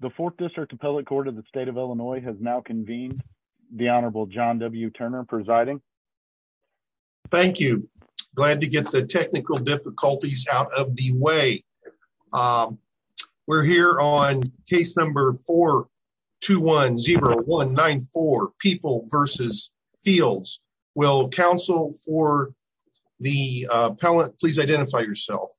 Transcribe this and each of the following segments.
the fourth district appellate court of the state of illinois has now convened the honorable john w turner presiding thank you glad to get the technical difficulties out of the way um we're here on case number four two one zero one nine four people versus fields will council for the uh pellet please identify yourself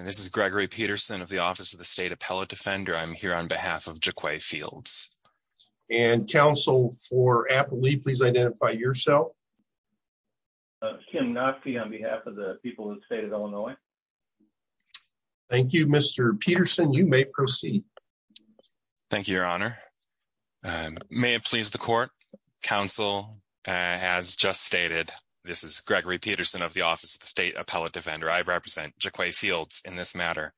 this is gregory peterson of the office of the state appellate defender i'm here on behalf of jacques fields and council for apple leaf please identify yourself kim not be on behalf of the people in the state of illinois thank you mr peterson you may proceed thank you your honor may it please the court council as just stated this is gregory peterson of the office of the state appellate defender i represent jacques fields in this matter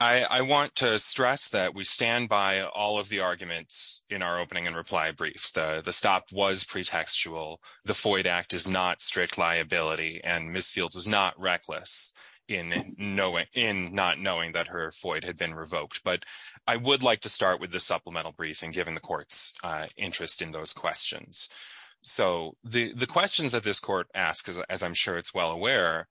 i i want to stress that we stand by all of the arguments in our opening and reply briefs the the stop was pretextual the foyd act is not strict liability and miss fields is not reckless in knowing in not knowing that her foyd had been revoked but i would like to start with the supplemental briefing given the court's uh interest in those questions so the the questions that this court asks as i'm sure it's well aware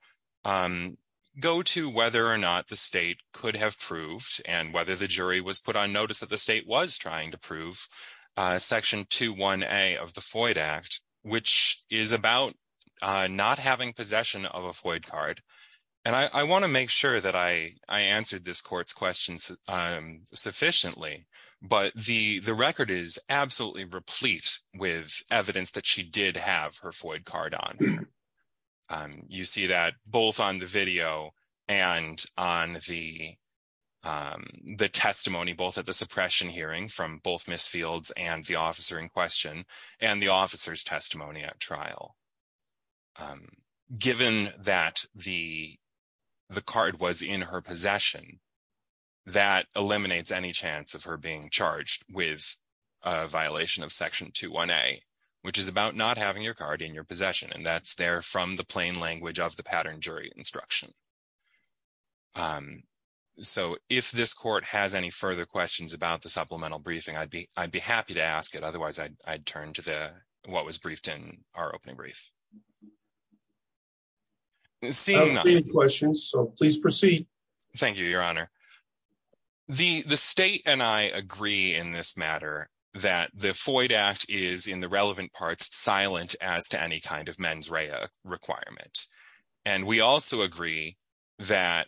um go to whether or not the state could have proved and whether the jury was put on notice that the state was trying to prove uh section two one a of the foyd act which is about uh not having possession of a foyd card and i i want to make sure that i i answered this court's questions um sufficiently but the the record is absolutely replete with evidence that she did have her foyd card on um you see that both on the video and on the um the testimony both at the suppression hearing from both miss fields and the officer in question and the officer's testimony at trial um given that the the card was in her possession that eliminates any chance of her being charged with a violation of section two one a which is about not having your card in your possession and that's there from the plain language of the pattern jury instruction um so if this court has any further questions about the supplemental briefing i'd be i'd be happy to ask it otherwise i'd turn to the what was briefed in our opening brief questions so please proceed thank you your honor the the state and i agree in this matter that the foyd act is in the relevant parts silent as to any kind of mens rea requirement and we also agree that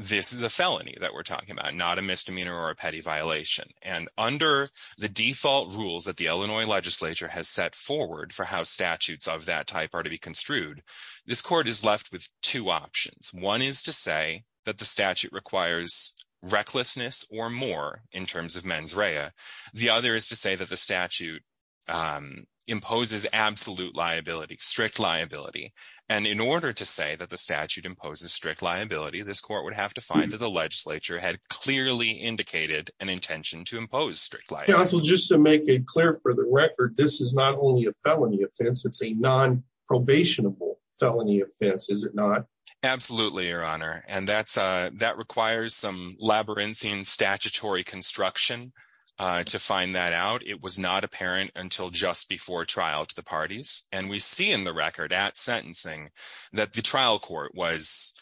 this is a felony that we're talking about not a misdemeanor or a petty violation and under the default rules that the illinois legislature has set forward for how statutes of that type are to be construed this court is left with two options one is to say that the statute requires recklessness or more in terms of mens rea the other is to say that the statute um imposes absolute liability strict liability and in order to say that the statute imposes strict liability this court would have to find that the legislature had clearly indicated an intention to impose strict life well just to make it clear for the record this is not only a felony offense it's a non-probationable felony offense is it not absolutely your honor and that's uh that requires some labyrinthine statutory construction uh to find that out it was not apparent until just before trial to the parties and we see in the record at sentencing that the trial court was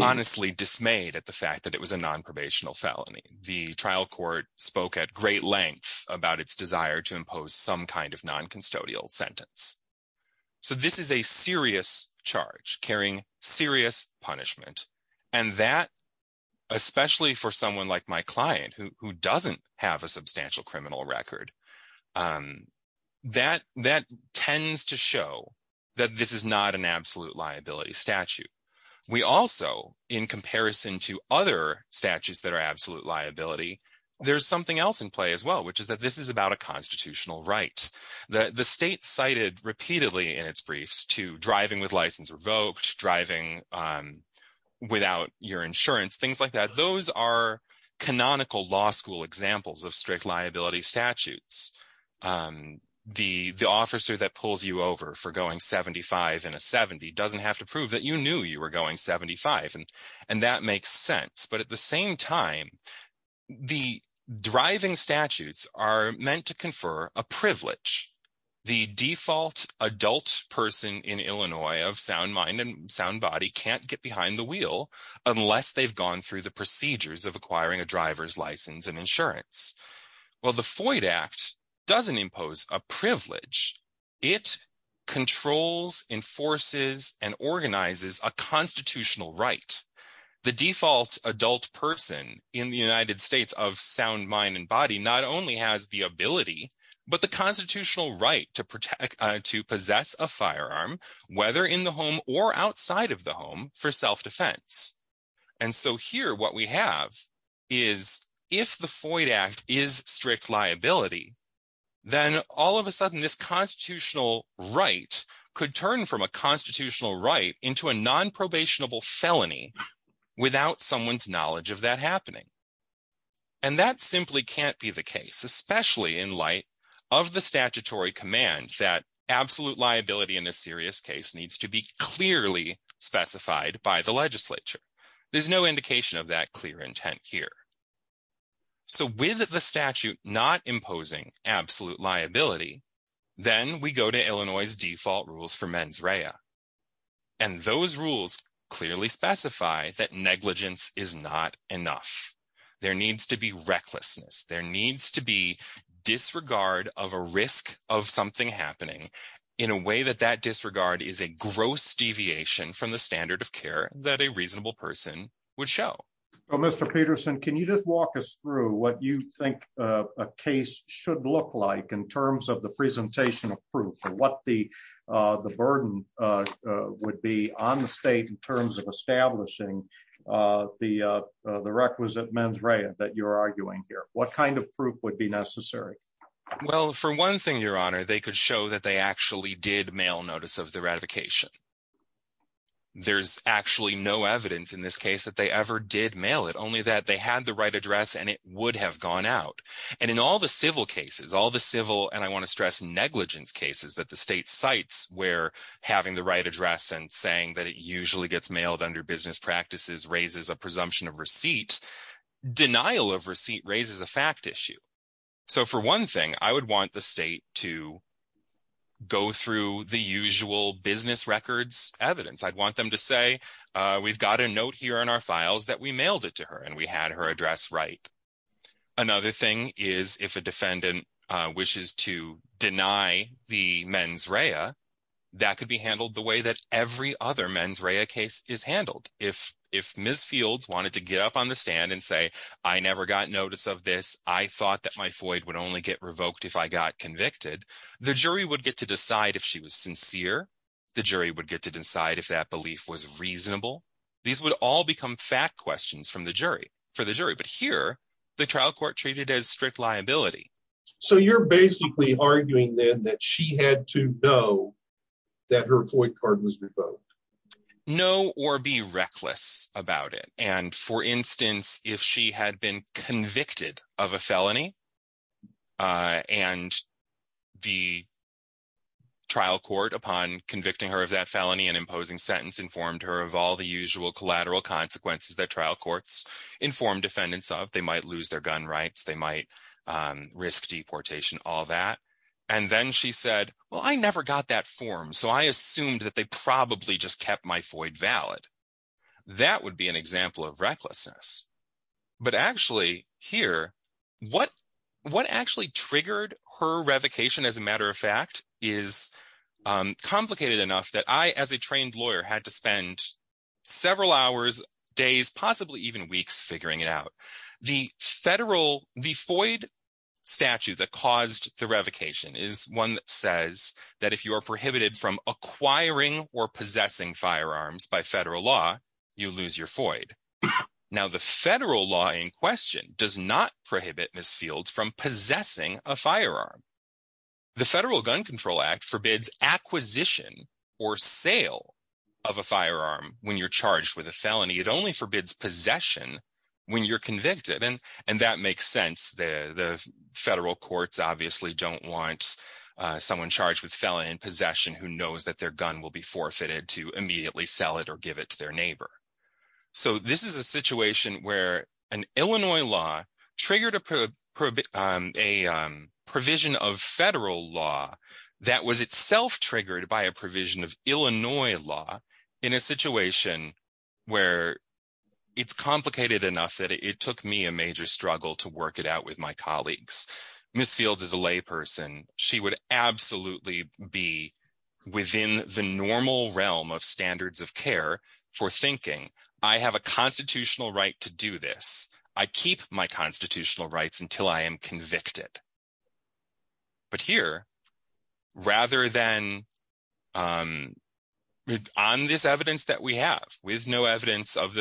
honestly dismayed at the fact that it was a non-probational felony the trial court spoke at great length about its desire to impose some kind of non-custodial sentence so this is a serious charge carrying serious punishment and that especially for someone like my client who doesn't have a substantial criminal record um that that tends to show that this is not an absolute liability statute we also in comparison to other statutes that are in play as well which is that this is about a constitutional right that the state cited repeatedly in its briefs to driving with license revoked driving um without your insurance things like that those are canonical law school examples of strict liability statutes um the the officer that pulls you over for going 75 in a 70 doesn't have to prove that you knew you were going 75 and that makes sense but at the same time the driving statutes are meant to confer a privilege the default adult person in illinois of sound mind and sound body can't get behind the wheel unless they've gone through the procedures of acquiring a driver's license and insurance well the foyd act doesn't impose a privilege it controls enforces and organizes a constitutional right the default adult person in the united states of sound mind and body not only has the ability but the constitutional right to protect uh to possess a firearm whether in the home or outside of the home for self-defense and so here what we have is if the foyd act is strict liability then all of a sudden this constitutional right could turn from a constitutional right into a non-probationable felony without someone's knowledge of that happening and that simply can't be the case especially in light of the statutory command that absolute liability in a serious case needs to be clearly specified by the legislature there's no indication of that clear intent here so with the statute not imposing absolute liability then we go to clearly specify that negligence is not enough there needs to be recklessness there needs to be disregard of a risk of something happening in a way that that disregard is a gross deviation from the standard of care that a reasonable person would show well mr peterson can you just walk us through what you think a case should look like in terms of the presentation of proof what the uh the burden uh would be on the state in terms of establishing uh the uh the requisite mens rea that you're arguing here what kind of proof would be necessary well for one thing your honor they could show that they actually did mail notice of the ratification there's actually no evidence in this case that they ever did mail it only that they had the right address and it would have gone out and in all the civil cases all the civil and i want to the state sites where having the right address and saying that it usually gets mailed under business practices raises a presumption of receipt denial of receipt raises a fact issue so for one thing i would want the state to go through the usual business records evidence i'd want them to say uh we've got a note here in our files that we mailed it to her and we had her mens rea that could be handled the way that every other mens rea case is handled if if ms fields wanted to get up on the stand and say i never got notice of this i thought that my void would only get revoked if i got convicted the jury would get to decide if she was sincere the jury would get to decide if that belief was reasonable these would all become fact questions from the jury for the jury but here the trial court treated as strict liability so you're basically arguing then that she had to know that her void card was revoked no or be reckless about it and for instance if she had been convicted of a felony uh and the trial court upon convicting her of that felony and imposing sentence informed her of all the usual collateral consequences that trial courts inform defendants of they might lose their gun rights they might risk deportation all that and then she said well i never got that form so i assumed that they probably just kept my void valid that would be an example of recklessness but actually here what what actually triggered her revocation as a matter of fact is complicated enough that i as a trained lawyer had to spend several hours days possibly even weeks figuring it out the federal the void statute that caused the revocation is one that says that if you are prohibited from acquiring or possessing firearms by federal law you lose your void now the federal law in question does not prohibit misfields from possessing a firearm the federal gun control act forbids acquisition or sale of a firearm when you're charged with felony it only forbids possession when you're convicted and and that makes sense the the federal courts obviously don't want someone charged with felony and possession who knows that their gun will be forfeited to immediately sell it or give it to their neighbor so this is a situation where an illinois law triggered a provision of federal law that was itself triggered by a provision of where it's complicated enough that it took me a major struggle to work it out with my colleagues misfield is a lay person she would absolutely be within the normal realm of standards of care for thinking i have a constitutional right to do this i keep my constitutional rights until i am of the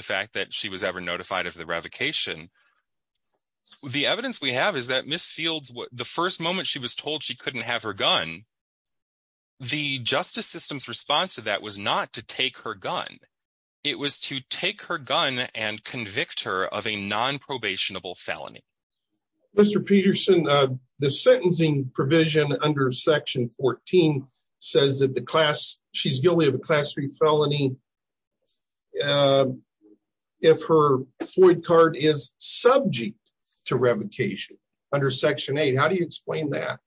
fact that she was ever notified of the revocation the evidence we have is that miss fields the first moment she was told she couldn't have her gun the justice system's response to that was not to take her gun it was to take her gun and convict her of a non-probationable felony mr peterson uh the sentencing provision under section 14 says that the class she's guilty of class 3 felony uh if her floyd card is subject to revocation under section 8 how do you explain that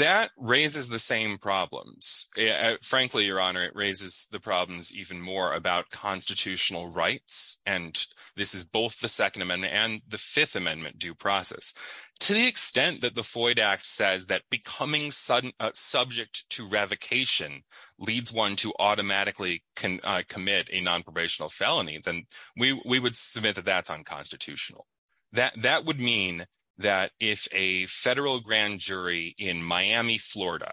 that raises the same problems frankly your honor it raises the problems even more about constitutional rights and this is both the second amendment and the fifth amendment due process to the extent that the floyd act says that becoming sudden subject to revocation leads one to automatically can commit a non-probational felony then we we would submit that that's unconstitutional that that would mean that if a federal grand jury in miami florida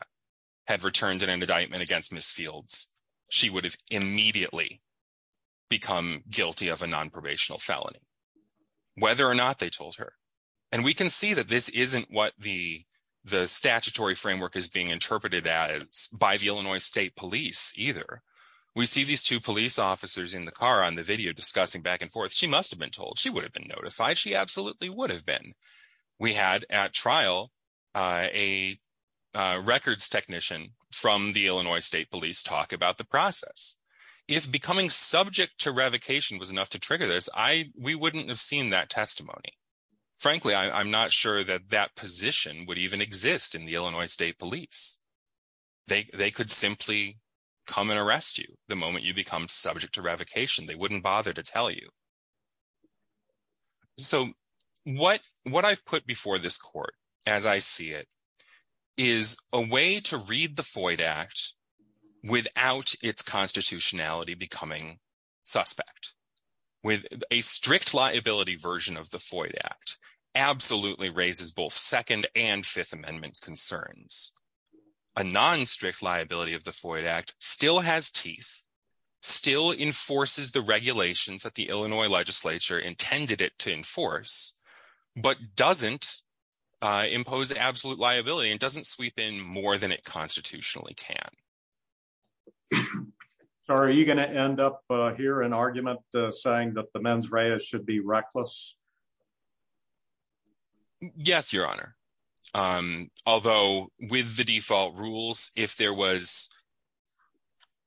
had returned an indictment against miss fields she would have immediately become guilty of a non-probational felony whether or not they told her and we can see that this isn't what the the statutory framework is being interpreted as by the illinois state police either we see these two police officers in the car on the video discussing back and forth she must have been told she would have been notified she absolutely would have been we had at trial uh a records technician from the illinois state police talk about the process if becoming subject to revocation was enough to we wouldn't have seen that testimony frankly i'm not sure that that position would even exist in the illinois state police they they could simply come and arrest you the moment you become subject to revocation they wouldn't bother to tell you so what what i've put before this court as i see it is a way to read the foyd act without its constitutionality becoming suspect with a strict liability version of the foyd act absolutely raises both second and fifth amendment concerns a non-strict liability of the foyd act still has teeth still enforces the regulations that illinois legislature intended it to enforce but doesn't impose absolute liability and doesn't sweep in more than it constitutionally can sorry are you going to end up here an argument saying that the mens rea should be reckless yes your honor um although with the default rules if there was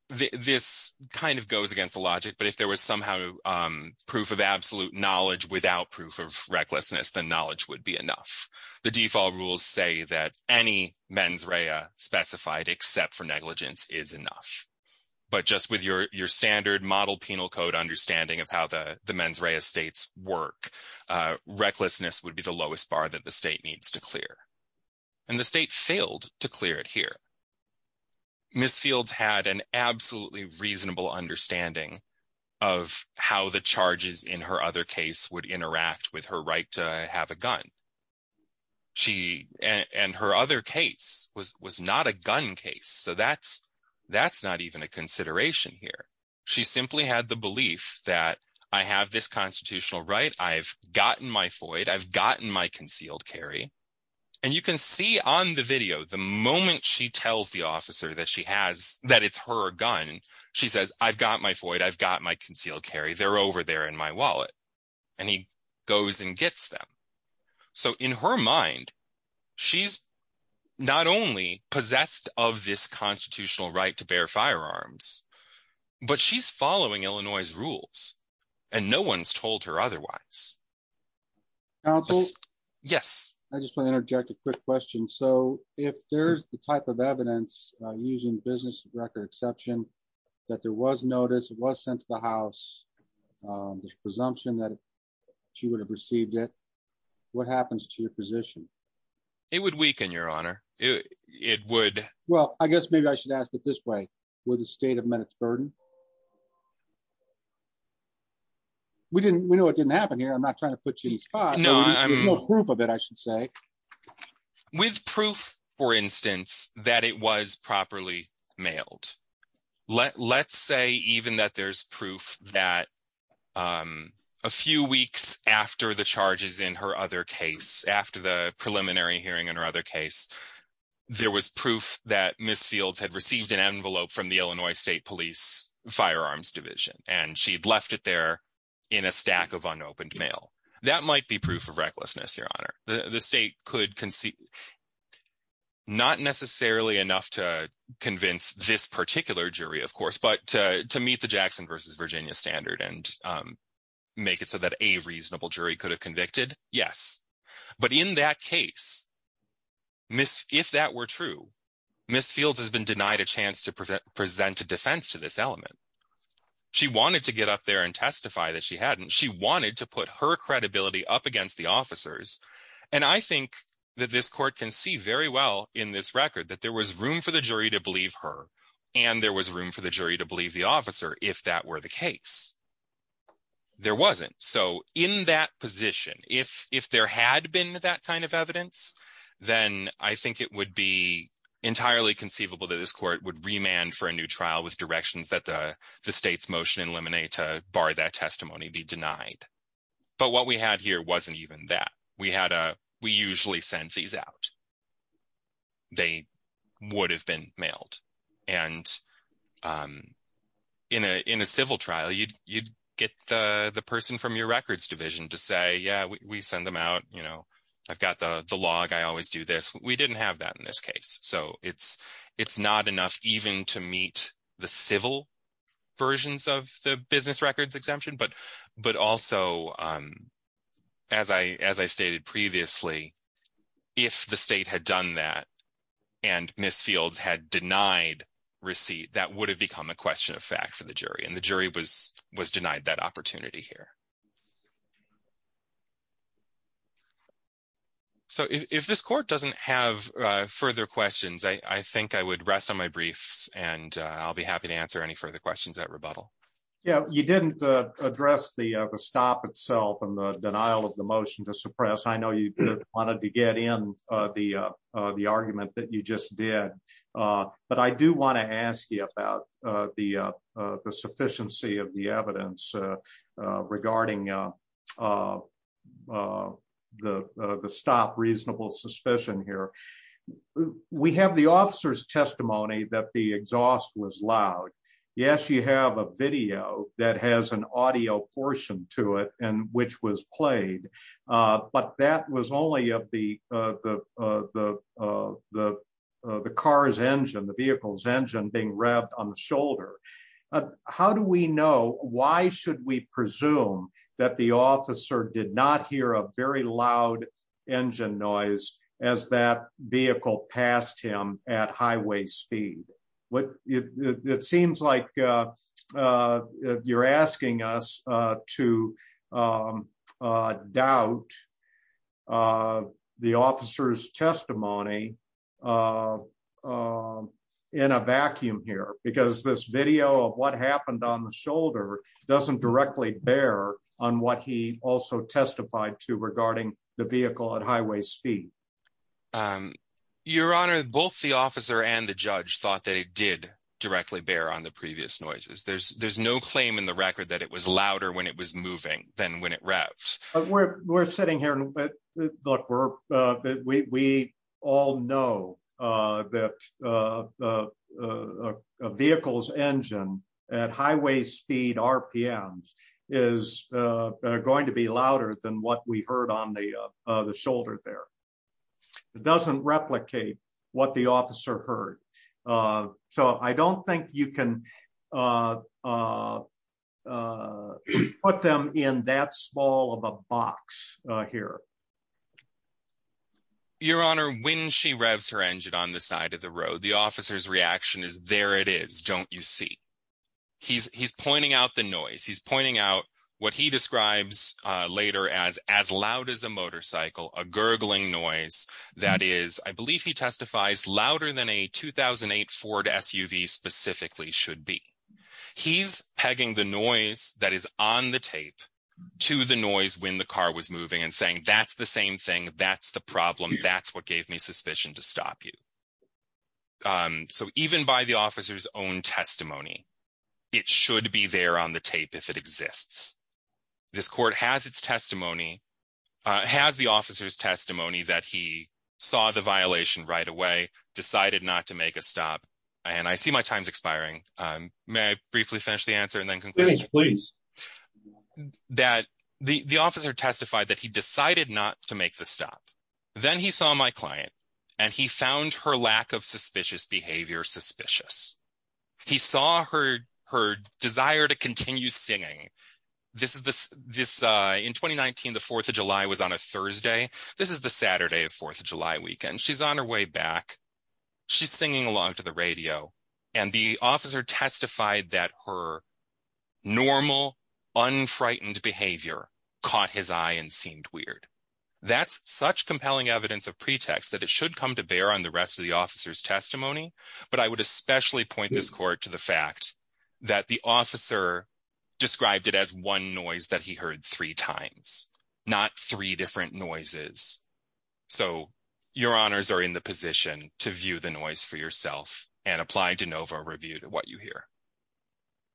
this kind of goes against the logic but if there was somehow um proof of absolute knowledge without proof of recklessness the knowledge would be enough the default rules say that any mens rea specified except for negligence is enough but just with your your standard model penal code understanding of how the the mens rea states work uh recklessness would be the lowest bar that the to clear it here miss fields had an absolutely reasonable understanding of how the charges in her other case would interact with her right to have a gun she and her other case was was not a gun case so that's that's not even a consideration here she simply had the belief that i have this constitutional right i've gotten my foyd i've on the video the moment she tells the officer that she has that it's her gun she says i've got my foyd i've got my concealed carry they're over there in my wallet and he goes and gets them so in her mind she's not only possessed of this constitutional right to bear firearms but she's following illinois's rules and no one's told her otherwise counsel yes i just want to interject a quick question so if there's the type of evidence using business record exception that there was notice it was sent to the house um there's presumption that she would have received it what happens to your position it would weaken your honor it would well i guess maybe i should ask it this way with the state of minutes burden we didn't we know it didn't happen here i'm not trying to put you in the spot no proof of it i should say with proof for instance that it was properly mailed let let's say even that there's proof that um a few weeks after the charges in her other case after the preliminary hearing in her other case there was proof that miss fields had received an envelope from the illinois state police firearms division and she'd left it there in a stack of unopened mail that might be proof of recklessness your honor the state could concede not necessarily enough to convince this particular jury of course but to meet the jackson versus virginia standard and make it so that a reasonable jury could have convicted yes but in that case miss if that were true miss fields has been denied a chance to present a defense to this element she wanted to get up there and testify that she hadn't she wanted to put her credibility up against the officers and i think that this court can see very well in this record that there was room for the jury to believe her and there was room for the jury to believe the officer if that were the case there wasn't so in that position if if there had been that kind of evidence then i think it would be entirely conceivable that this court would remand for a new trial with directions that the the state's motion eliminate to bar that testimony be denied but what we had here wasn't even that we had a we usually send these out they would have been mailed and um in a in a civil trial you'd you'd uh the person from your records division to say yeah we send them out you know i've got the the log i always do this we didn't have that in this case so it's it's not enough even to meet the civil versions of the business records exemption but but also um as i as i stated previously if the state had done that and miss fields had denied receipt that would have become a question of fact for the jury and the jury was was denied that opportunity here so if this court doesn't have uh further questions i i think i would rest on my briefs and i'll be happy to answer any further questions at rebuttal yeah you didn't address the the stop itself and the denial of the motion to suppress i know you wanted to get in uh the uh the argument that you just did uh but i do want to ask you about uh the uh the sufficiency of the evidence regarding uh uh the the stop reasonable suspicion here we have the officer's testimony that the exhaust was loud yes you have a video that has an audio portion to it and which was played uh that was only of the uh the uh the uh the uh the car's engine the vehicle's engine being rubbed on the shoulder how do we know why should we presume that the officer did not hear a very loud engine noise as that vehicle passed him at highway speed what it seems like uh uh you're uh the officer's testimony uh um in a vacuum here because this video of what happened on the shoulder doesn't directly bear on what he also testified to regarding the vehicle at highway speed um your honor both the officer and the judge thought that it did directly bear on the previous noises there's there's no claim in the record that it was louder when it was moving than when it looked we're uh we we all know uh that uh a vehicle's engine at highway speed rpms is uh going to be louder than what we heard on the uh the shoulder there it doesn't replicate what the officer heard uh so i don't think you can uh uh uh put them in that small of a box uh here your honor when she revs her engine on the side of the road the officer's reaction is there it is don't you see he's he's pointing out the noise he's pointing out what he describes uh later as as loud as a motorcycle a gurgling noise that is i believe he testifies louder than a 2008 ford suv specifically should be he's pegging the noise that is on the tape to the noise when the car was moving and saying that's the same thing that's the problem that's what gave me suspicion to stop you um so even by the officer's own testimony it should be there on the tape if it exists this court has its testimony uh has the officer's testimony that he saw the violation right away decided not to make a stop and i see my time's expiring um may i briefly finish the that he decided not to make the stop then he saw my client and he found her lack of suspicious behavior suspicious he saw her her desire to continue singing this is this this uh in 2019 the 4th of july was on a thursday this is the saturday of 4th of july weekend she's on her way back she's singing along to the radio and the officer testified that her normal unfrightened behavior caught his eye and seemed weird that's such compelling evidence of pretext that it should come to bear on the rest of the officer's testimony but i would especially point this court to the fact that the officer described it as one noise that he heard three times not three different noises so your honors are in the position to view the noise for yourself and apply de novo review to what you hear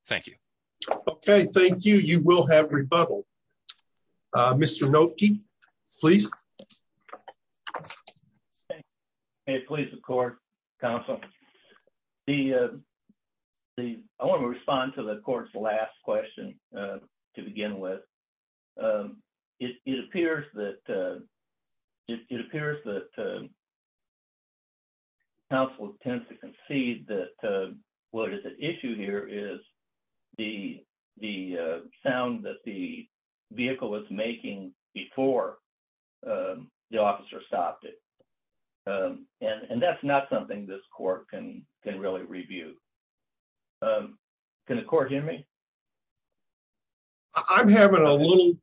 thank you okay thank you you will have rebuttal uh mr noky please hey please of course counsel the uh the i want to respond to the court's last question to begin with um it appears that uh it appears that counsel tends to concede that uh what is at issue here is the the sound that the vehicle was making before the officer stopped it and and that's not something this court can can really review um can the court hear me i'm having a little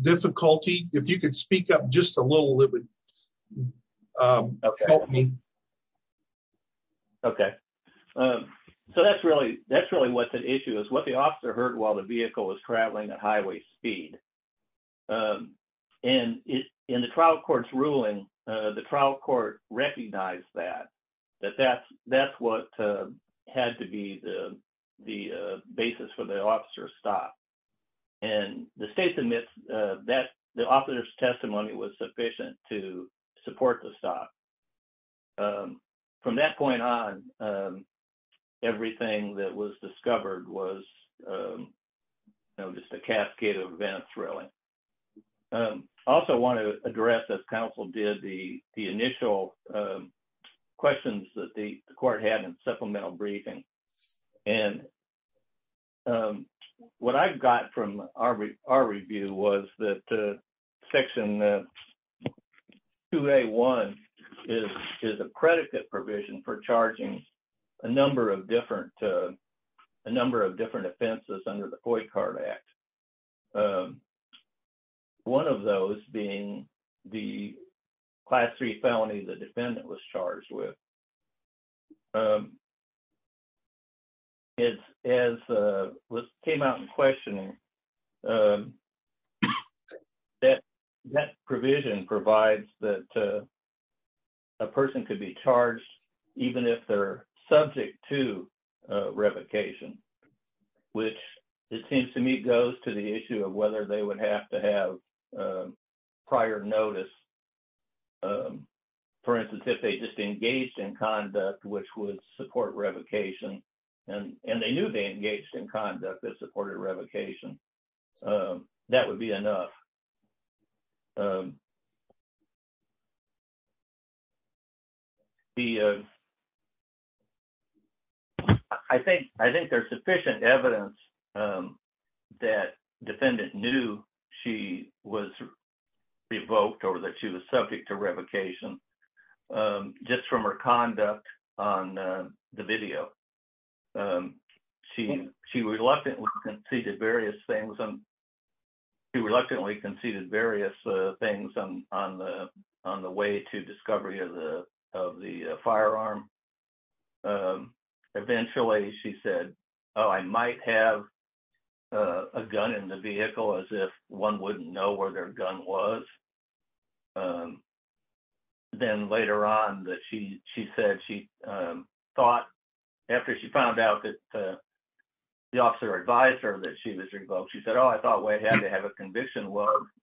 difficulty if you could speak up just a little it would um help me okay um so that's really that's really what the issue is what the officer heard while the vehicle was traveling at highway speed um and it in the court's ruling uh the trial court recognized that that that's that's what uh had to be the the basis for the officer's stop and the state submits uh that the officer's testimony was sufficient to support the stop um from that point on um everything that was discovered was um you know just a cascade of events really um also want to address as counsel did the the initial um questions that the court had in supplemental briefing and um what i've got from our our review was that uh section uh 2a1 is is a predicate provision for number of different uh a number of different offenses under the coy card act um one of those being the class 3 felony the defendant was charged with um it's as uh was came out in questioning um that that provision provides that uh a person could be charged even if they're subject to uh revocation which it seems to me goes to the issue of whether they would have to have uh prior notice um for instance if they just engaged in conduct which would support revocation and and they knew they engaged in conduct that the uh i think i think there's sufficient evidence um that defendant knew she was revoked or that she was subject to revocation um just from her conduct on the video um she she reluctantly conceded various things and she reluctantly conceded various uh things on on the on the discovery of the of the firearm um eventually she said oh i might have uh a gun in the vehicle as if one wouldn't know where their gun was um then later on that she she said she um thought after she found out that the officer advised her that she was revoked she said oh i thought we had to have a conviction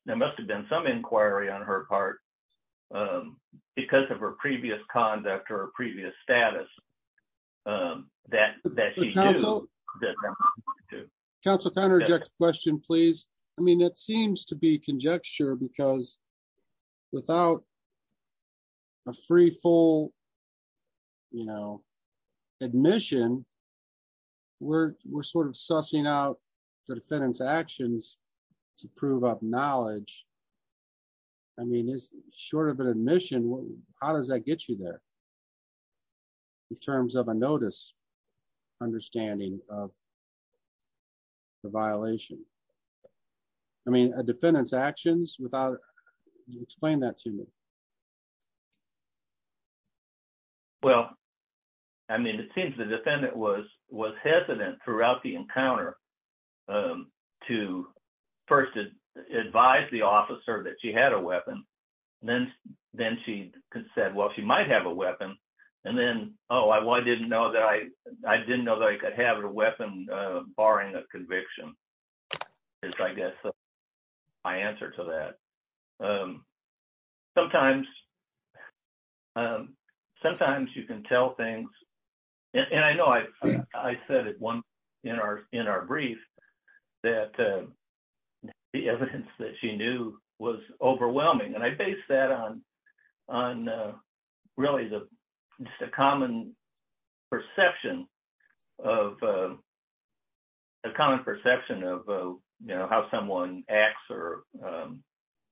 there must have been some inquiry on her part um because of her previous conduct or a previous status um that that council council counterject question please i mean it seems to be conjecture because without a free full you know admission we're we're sort of sussing out the defendant's knowledge i mean it's short of an admission how does that get you there in terms of a notice understanding of the violation i mean a defendant's actions without explain that to me well i mean it seems the defendant was was hesitant throughout the encounter um to first advise the officer that she had a weapon then then she said well she might have a weapon and then oh i didn't know that i i didn't know that i could have a weapon uh barring a conviction is i guess my answer to that um sometimes um sometimes you can tell things and i know i i said at one in our in our brief that uh the evidence that she knew was overwhelming and i based that on on uh really the just a common perception of uh a common perception of uh you know how someone acts or um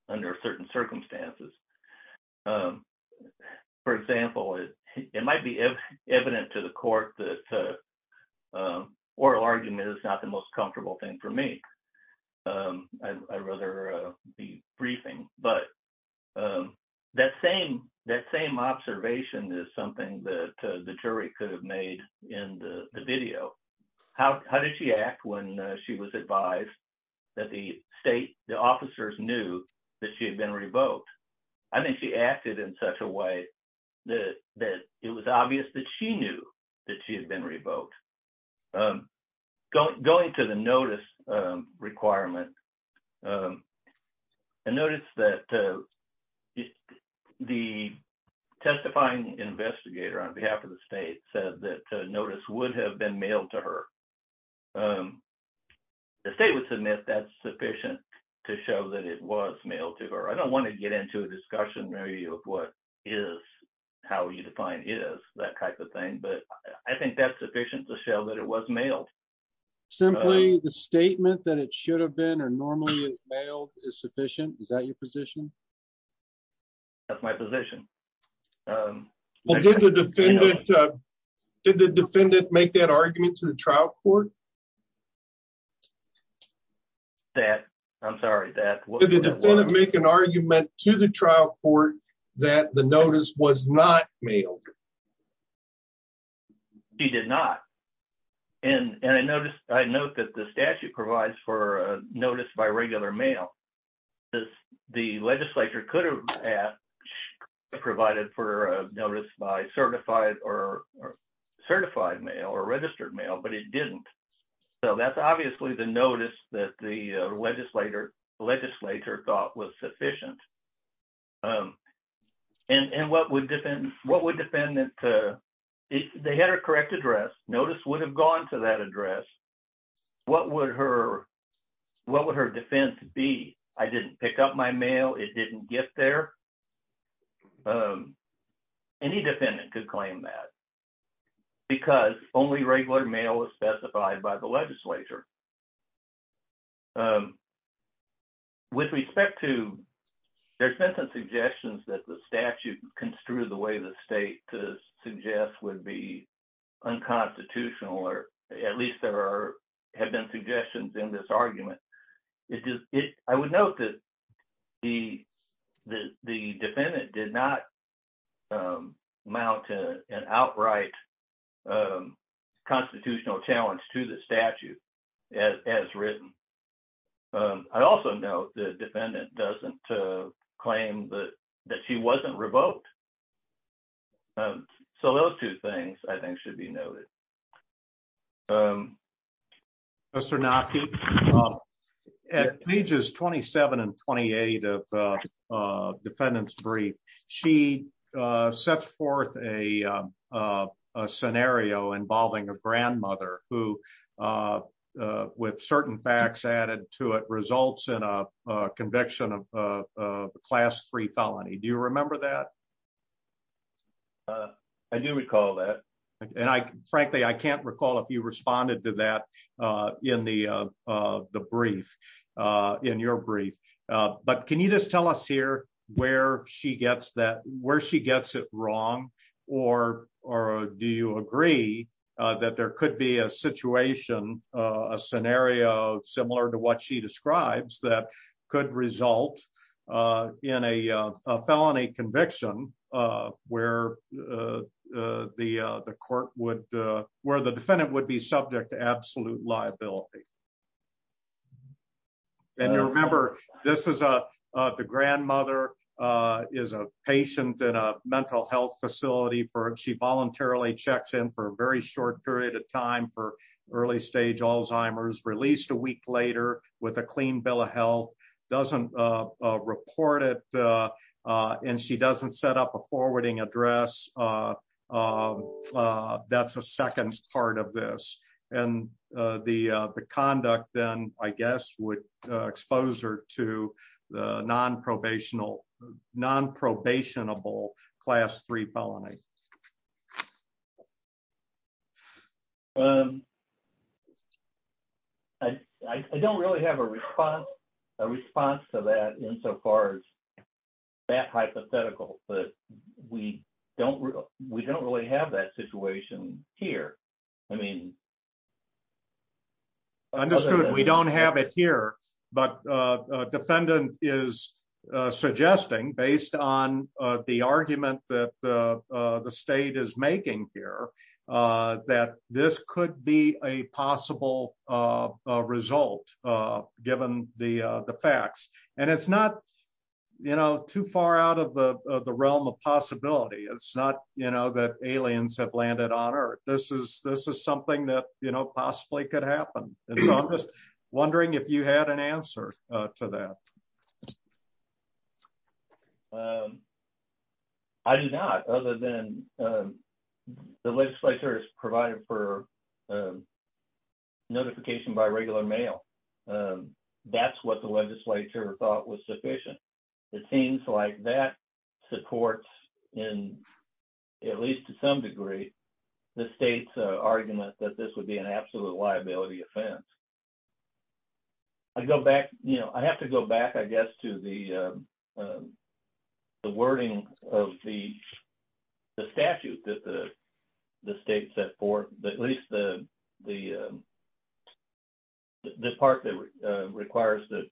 under certain circumstances um for example it might be evident to the court that uh oral argument is not the most comfortable thing for me um i'd rather uh be briefing but um that same that same observation is something that the jury could have made in the video how did she act when she was advised that the state the officers knew that she had been revoked i mean she acted in such a way that that it was obvious that she knew that she had been revoked um going to the notice um requirement um and notice that uh the testifying investigator on behalf of the state said that notice would have been mailed to her um the state would submit that's sufficient to show that it was mailed to her i don't want to get into a discussion maybe of what is how you define is that type of thing but i think that's sufficient to show that it was mailed simply the statement that it should have been or normally mailed is sufficient is that your position that's my position um well did the defendant uh did the defendant make that argument to the trial court that i'm sorry that the defendant make an argument to the trial court that the notice was not mailed he did not and and i noticed i note that the statute provides for a legislature could have asked provided for a notice by certified or certified mail or registered mail but it didn't so that's obviously the notice that the legislator legislature thought was sufficient um and and what would defend what would defend that uh if they had a correct address notice would have gone to that address what would her what would her defense be i didn't pick up my mail it didn't get there um any defendant could claim that because only regular mail was specified by the legislature um with respect to there's been some suggestions that the statute construed the way the state to suggest would be unconstitutional or at least there are have suggestions in this argument it just it i would note that the the defendant did not um mount an outright um constitutional challenge to the statute as as written um i also note the defendant doesn't uh claim that that she wasn't revoked um so those two things i think should be noted um mr naki at pages 27 and 28 of uh defendant's brief she uh set forth a uh a scenario involving a grandmother who uh uh with certain facts added to it results in a conviction of a class three felony do you remember that uh i do recall that and i frankly i can't recall if you responded to that uh in the uh uh the brief uh in your brief uh but can you just tell us here where she gets that where she gets it wrong or or do you agree uh that there could be a situation uh a scenario similar to what she uh where uh uh the uh the court would uh where the defendant would be subject to absolute liability and you remember this is a uh the grandmother uh is a patient in a mental health facility for she voluntarily checks in for a very short period of time for early stage alzheimer's a week later with a clean bill of health doesn't uh uh report it uh uh and she doesn't set up a forwarding address uh uh uh that's a second part of this and uh the uh the conduct then i guess would uh expose her to the non-probational non-probationable class three felony um i i don't really have a response a response to that insofar as that hypothetical but we don't we don't really have that situation here i mean understood we don't have it here but uh a defendant is uh suggesting based on uh the state is making here uh that this could be a possible uh result uh given the uh the facts and it's not you know too far out of the the realm of possibility it's not you know that aliens have landed on earth this is this is something that you know possibly could happen and so i'm just wondering if you had an answer uh to that um i do not other than um the legislature has provided for notification by regular mail um that's what the legislature thought was sufficient it seems like that supports in at least to some degree the state's argument that this would be an absolute liability offense i go back you know i have to go back i guess to the uh the wording of the the statute that the the state set forth at least the the um this part that uh requires the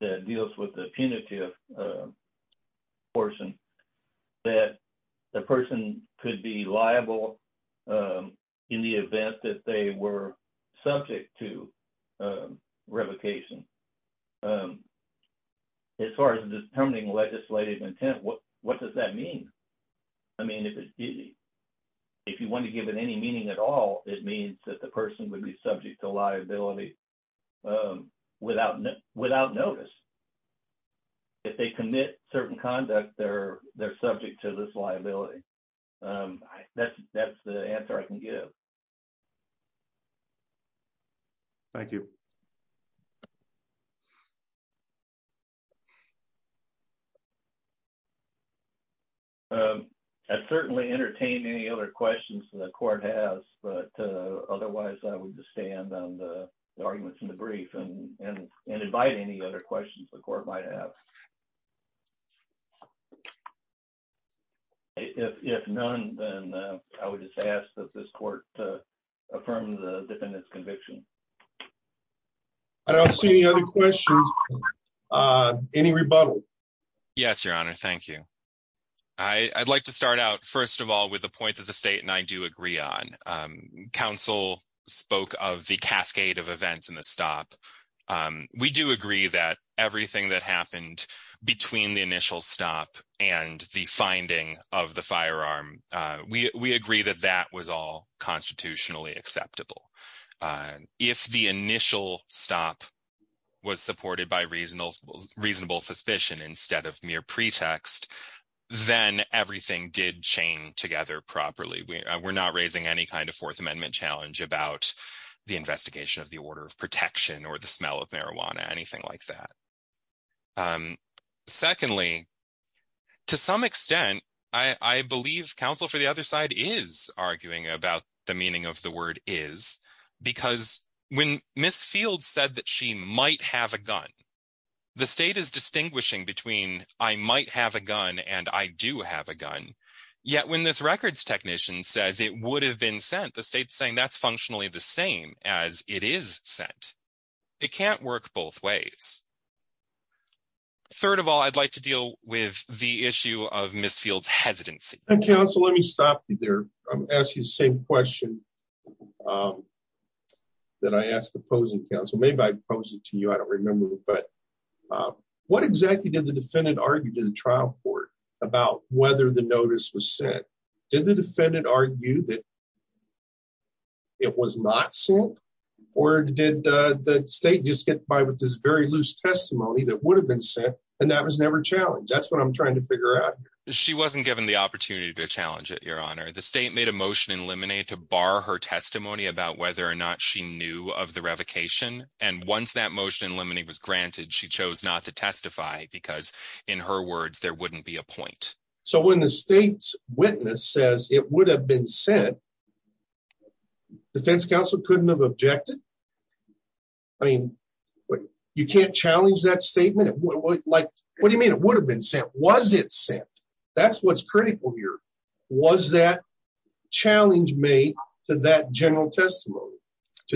that deals with the punitive uh portion that the person could be liable um in the event that they were subject to um revocation um as far as determining legislative intent what what does that mean i mean if it's easy if you want to give it any meaning at all it means that the person would be subject to liability um without without notice if they commit certain conduct they're they're subject to this liability um that's that's the answer i can give thank you um i certainly entertained any other questions the court has but uh otherwise i would just stand on the arguments in the brief and and invite any other questions the court might have if if none then i would just ask that this court to affirm the defendant's conviction i don't see any other questions uh any rebuttal yes your honor thank you i i'd like to start out first of all with the point that the state and i do agree on um council spoke of the cascade of events in the stop um we do agree that everything that happened between the initial stop and the finding of the firearm uh we we agree that that was all constitutionally acceptable if the initial stop was supported by reasonable reasonable suspicion instead of mere pretext then everything did chain together properly we're not raising any kind of fourth amendment challenge about the investigation of the order of protection or the smell of marijuana anything like that um secondly to some extent i i believe counsel for the other side is arguing about the meaning of the word is because when miss field said that she might have a gun the state is distinguishing between i might have a gun and i do have a gun yet when this records technician says it would have been sent the state's saying that's functionally the same as it is sent it is third of all i'd like to deal with the issue of miss field's hesitancy and counsel let me stop you there i'm asking the same question um that i asked opposing counsel maybe i posed it to you i don't remember but um what exactly did the defendant argue to the trial court about whether the notice was sent did the defendant argue that it was not sent or did uh the state just get by this very loose testimony that would have been sent and that was never challenged that's what i'm trying to figure out she wasn't given the opportunity to challenge it your honor the state made a motion in lemonade to bar her testimony about whether or not she knew of the revocation and once that motion in limiting was granted she chose not to testify because in her words there wouldn't be a point so when the state's witness says it would have been sent defense counsel couldn't have objected i mean you can't challenge that statement like what do you mean it would have been sent was it sent that's what's critical here was that challenge made to that general testimony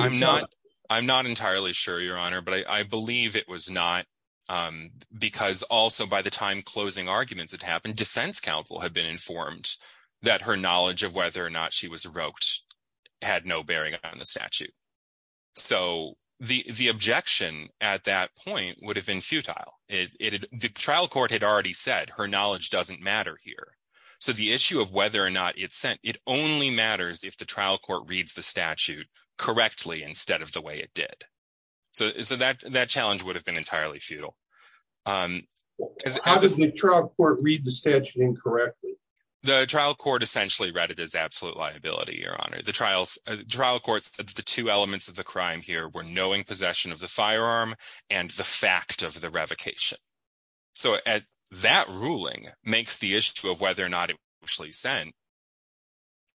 i'm not i'm not entirely sure your honor but i i believe it was not um because also by the time closing arguments had happened defense counsel had been informed that her statute so the the objection at that point would have been futile it the trial court had already said her knowledge doesn't matter here so the issue of whether or not it's sent it only matters if the trial court reads the statute correctly instead of the way it did so so that that challenge would have been entirely futile um as a trial court read the statute incorrectly the trial court essentially read it as absolute liability your honor the trials trial courts the two elements of the crime here were knowing possession of the firearm and the fact of the revocation so at that ruling makes the issue of whether or not it was actually sent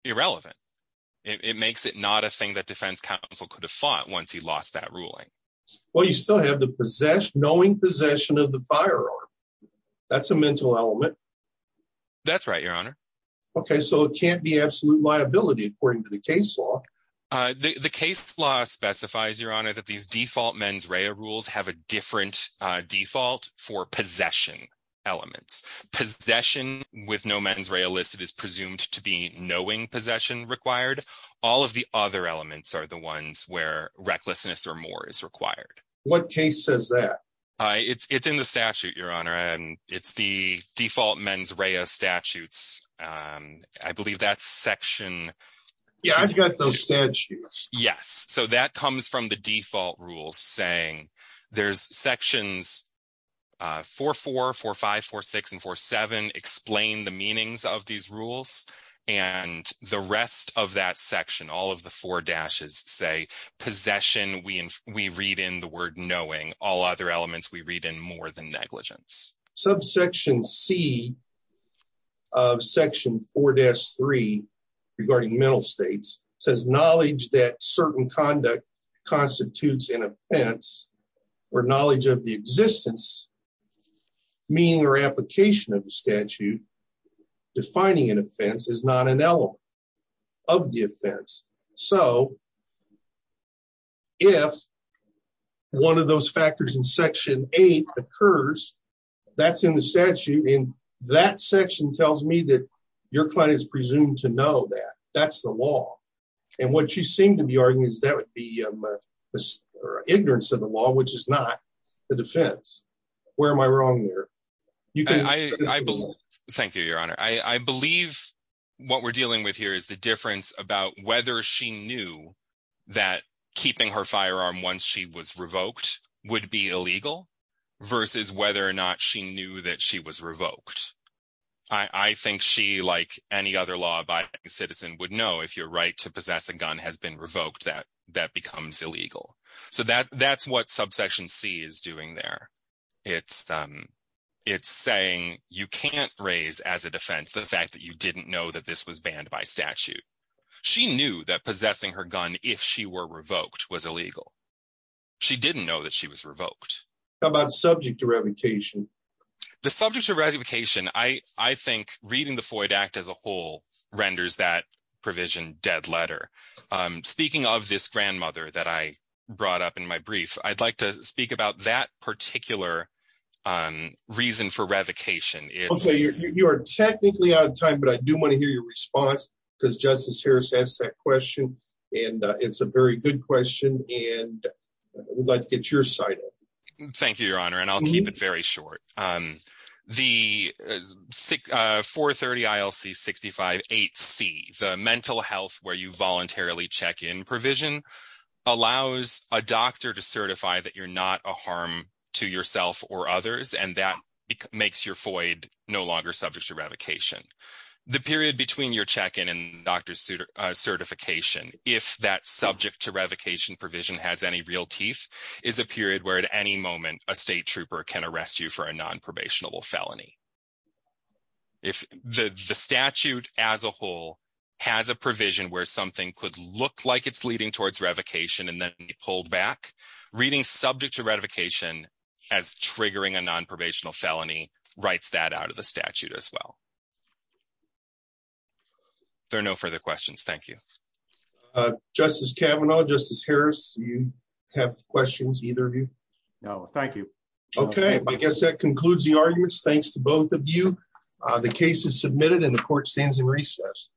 irrelevant it makes it not a thing that defense counsel could have fought once he lost that ruling well you still have the possession knowing possession of the firearm that's a mental element that's right your honor okay so it can't be absolute liability according to the case law uh the the case law specifies your honor that these default mens rea rules have a different uh default for possession elements possession with no mens rea illicit is presumed to be knowing possession required all of the other elements are the ones where recklessness or more is required what case says that uh it's it's in the statute your honor and it's the yes so that comes from the default rules saying there's sections uh four four four five four six and four seven explain the meanings of these rules and the rest of that section all of the four dashes say possession we we read in the word knowing all other elements we read in more than certain conduct constitutes an offense or knowledge of the existence meaning or application of the statute defining an offense is not an element of the offense so if one of those factors in section eight occurs that's in the statute and that section tells me that your client is you seem to be arguing is that would be um or ignorance of the law which is not the defense where am i wrong there you can i i believe thank you your honor i i believe what we're dealing with here is the difference about whether she knew that keeping her firearm once she was revoked would be illegal versus whether or not she knew that she was revoked i i think she like any other law-abiding citizen would know if your right to possess a gun has been revoked that that becomes illegal so that that's what subsection c is doing there it's um it's saying you can't raise as a defense the fact that you didn't know that this was banned by statute she knew that possessing her gun if she were revoked was illegal she didn't know that she was revoked how about subject to revocation the subject to ratification i i think reading the renders that provision dead letter um speaking of this grandmother that i brought up in my brief i'd like to speak about that particular um reason for revocation okay you are technically out of time but i do want to hear your response because justice harris asked that question and it's a very good question and i would like to get your side thank you your honor and i'll keep it very short um the 430 ilc 65 8c the mental health where you voluntarily check in provision allows a doctor to certify that you're not a harm to yourself or others and that it makes your void no longer subject to revocation the period between your check-in and doctor's certification if that subject to revocation provision has any real teeth is a period where at any moment a state can arrest you for a non-probationable felony if the the statute as a whole has a provision where something could look like it's leading towards revocation and then pulled back reading subject to ratification as triggering a non-probational felony writes that out of the statute as well there are no further questions thank you uh justice kavanaugh justice harris you have questions either of you no thank you okay i guess that concludes the arguments thanks to both of you uh the case is submitted and the court stands in recess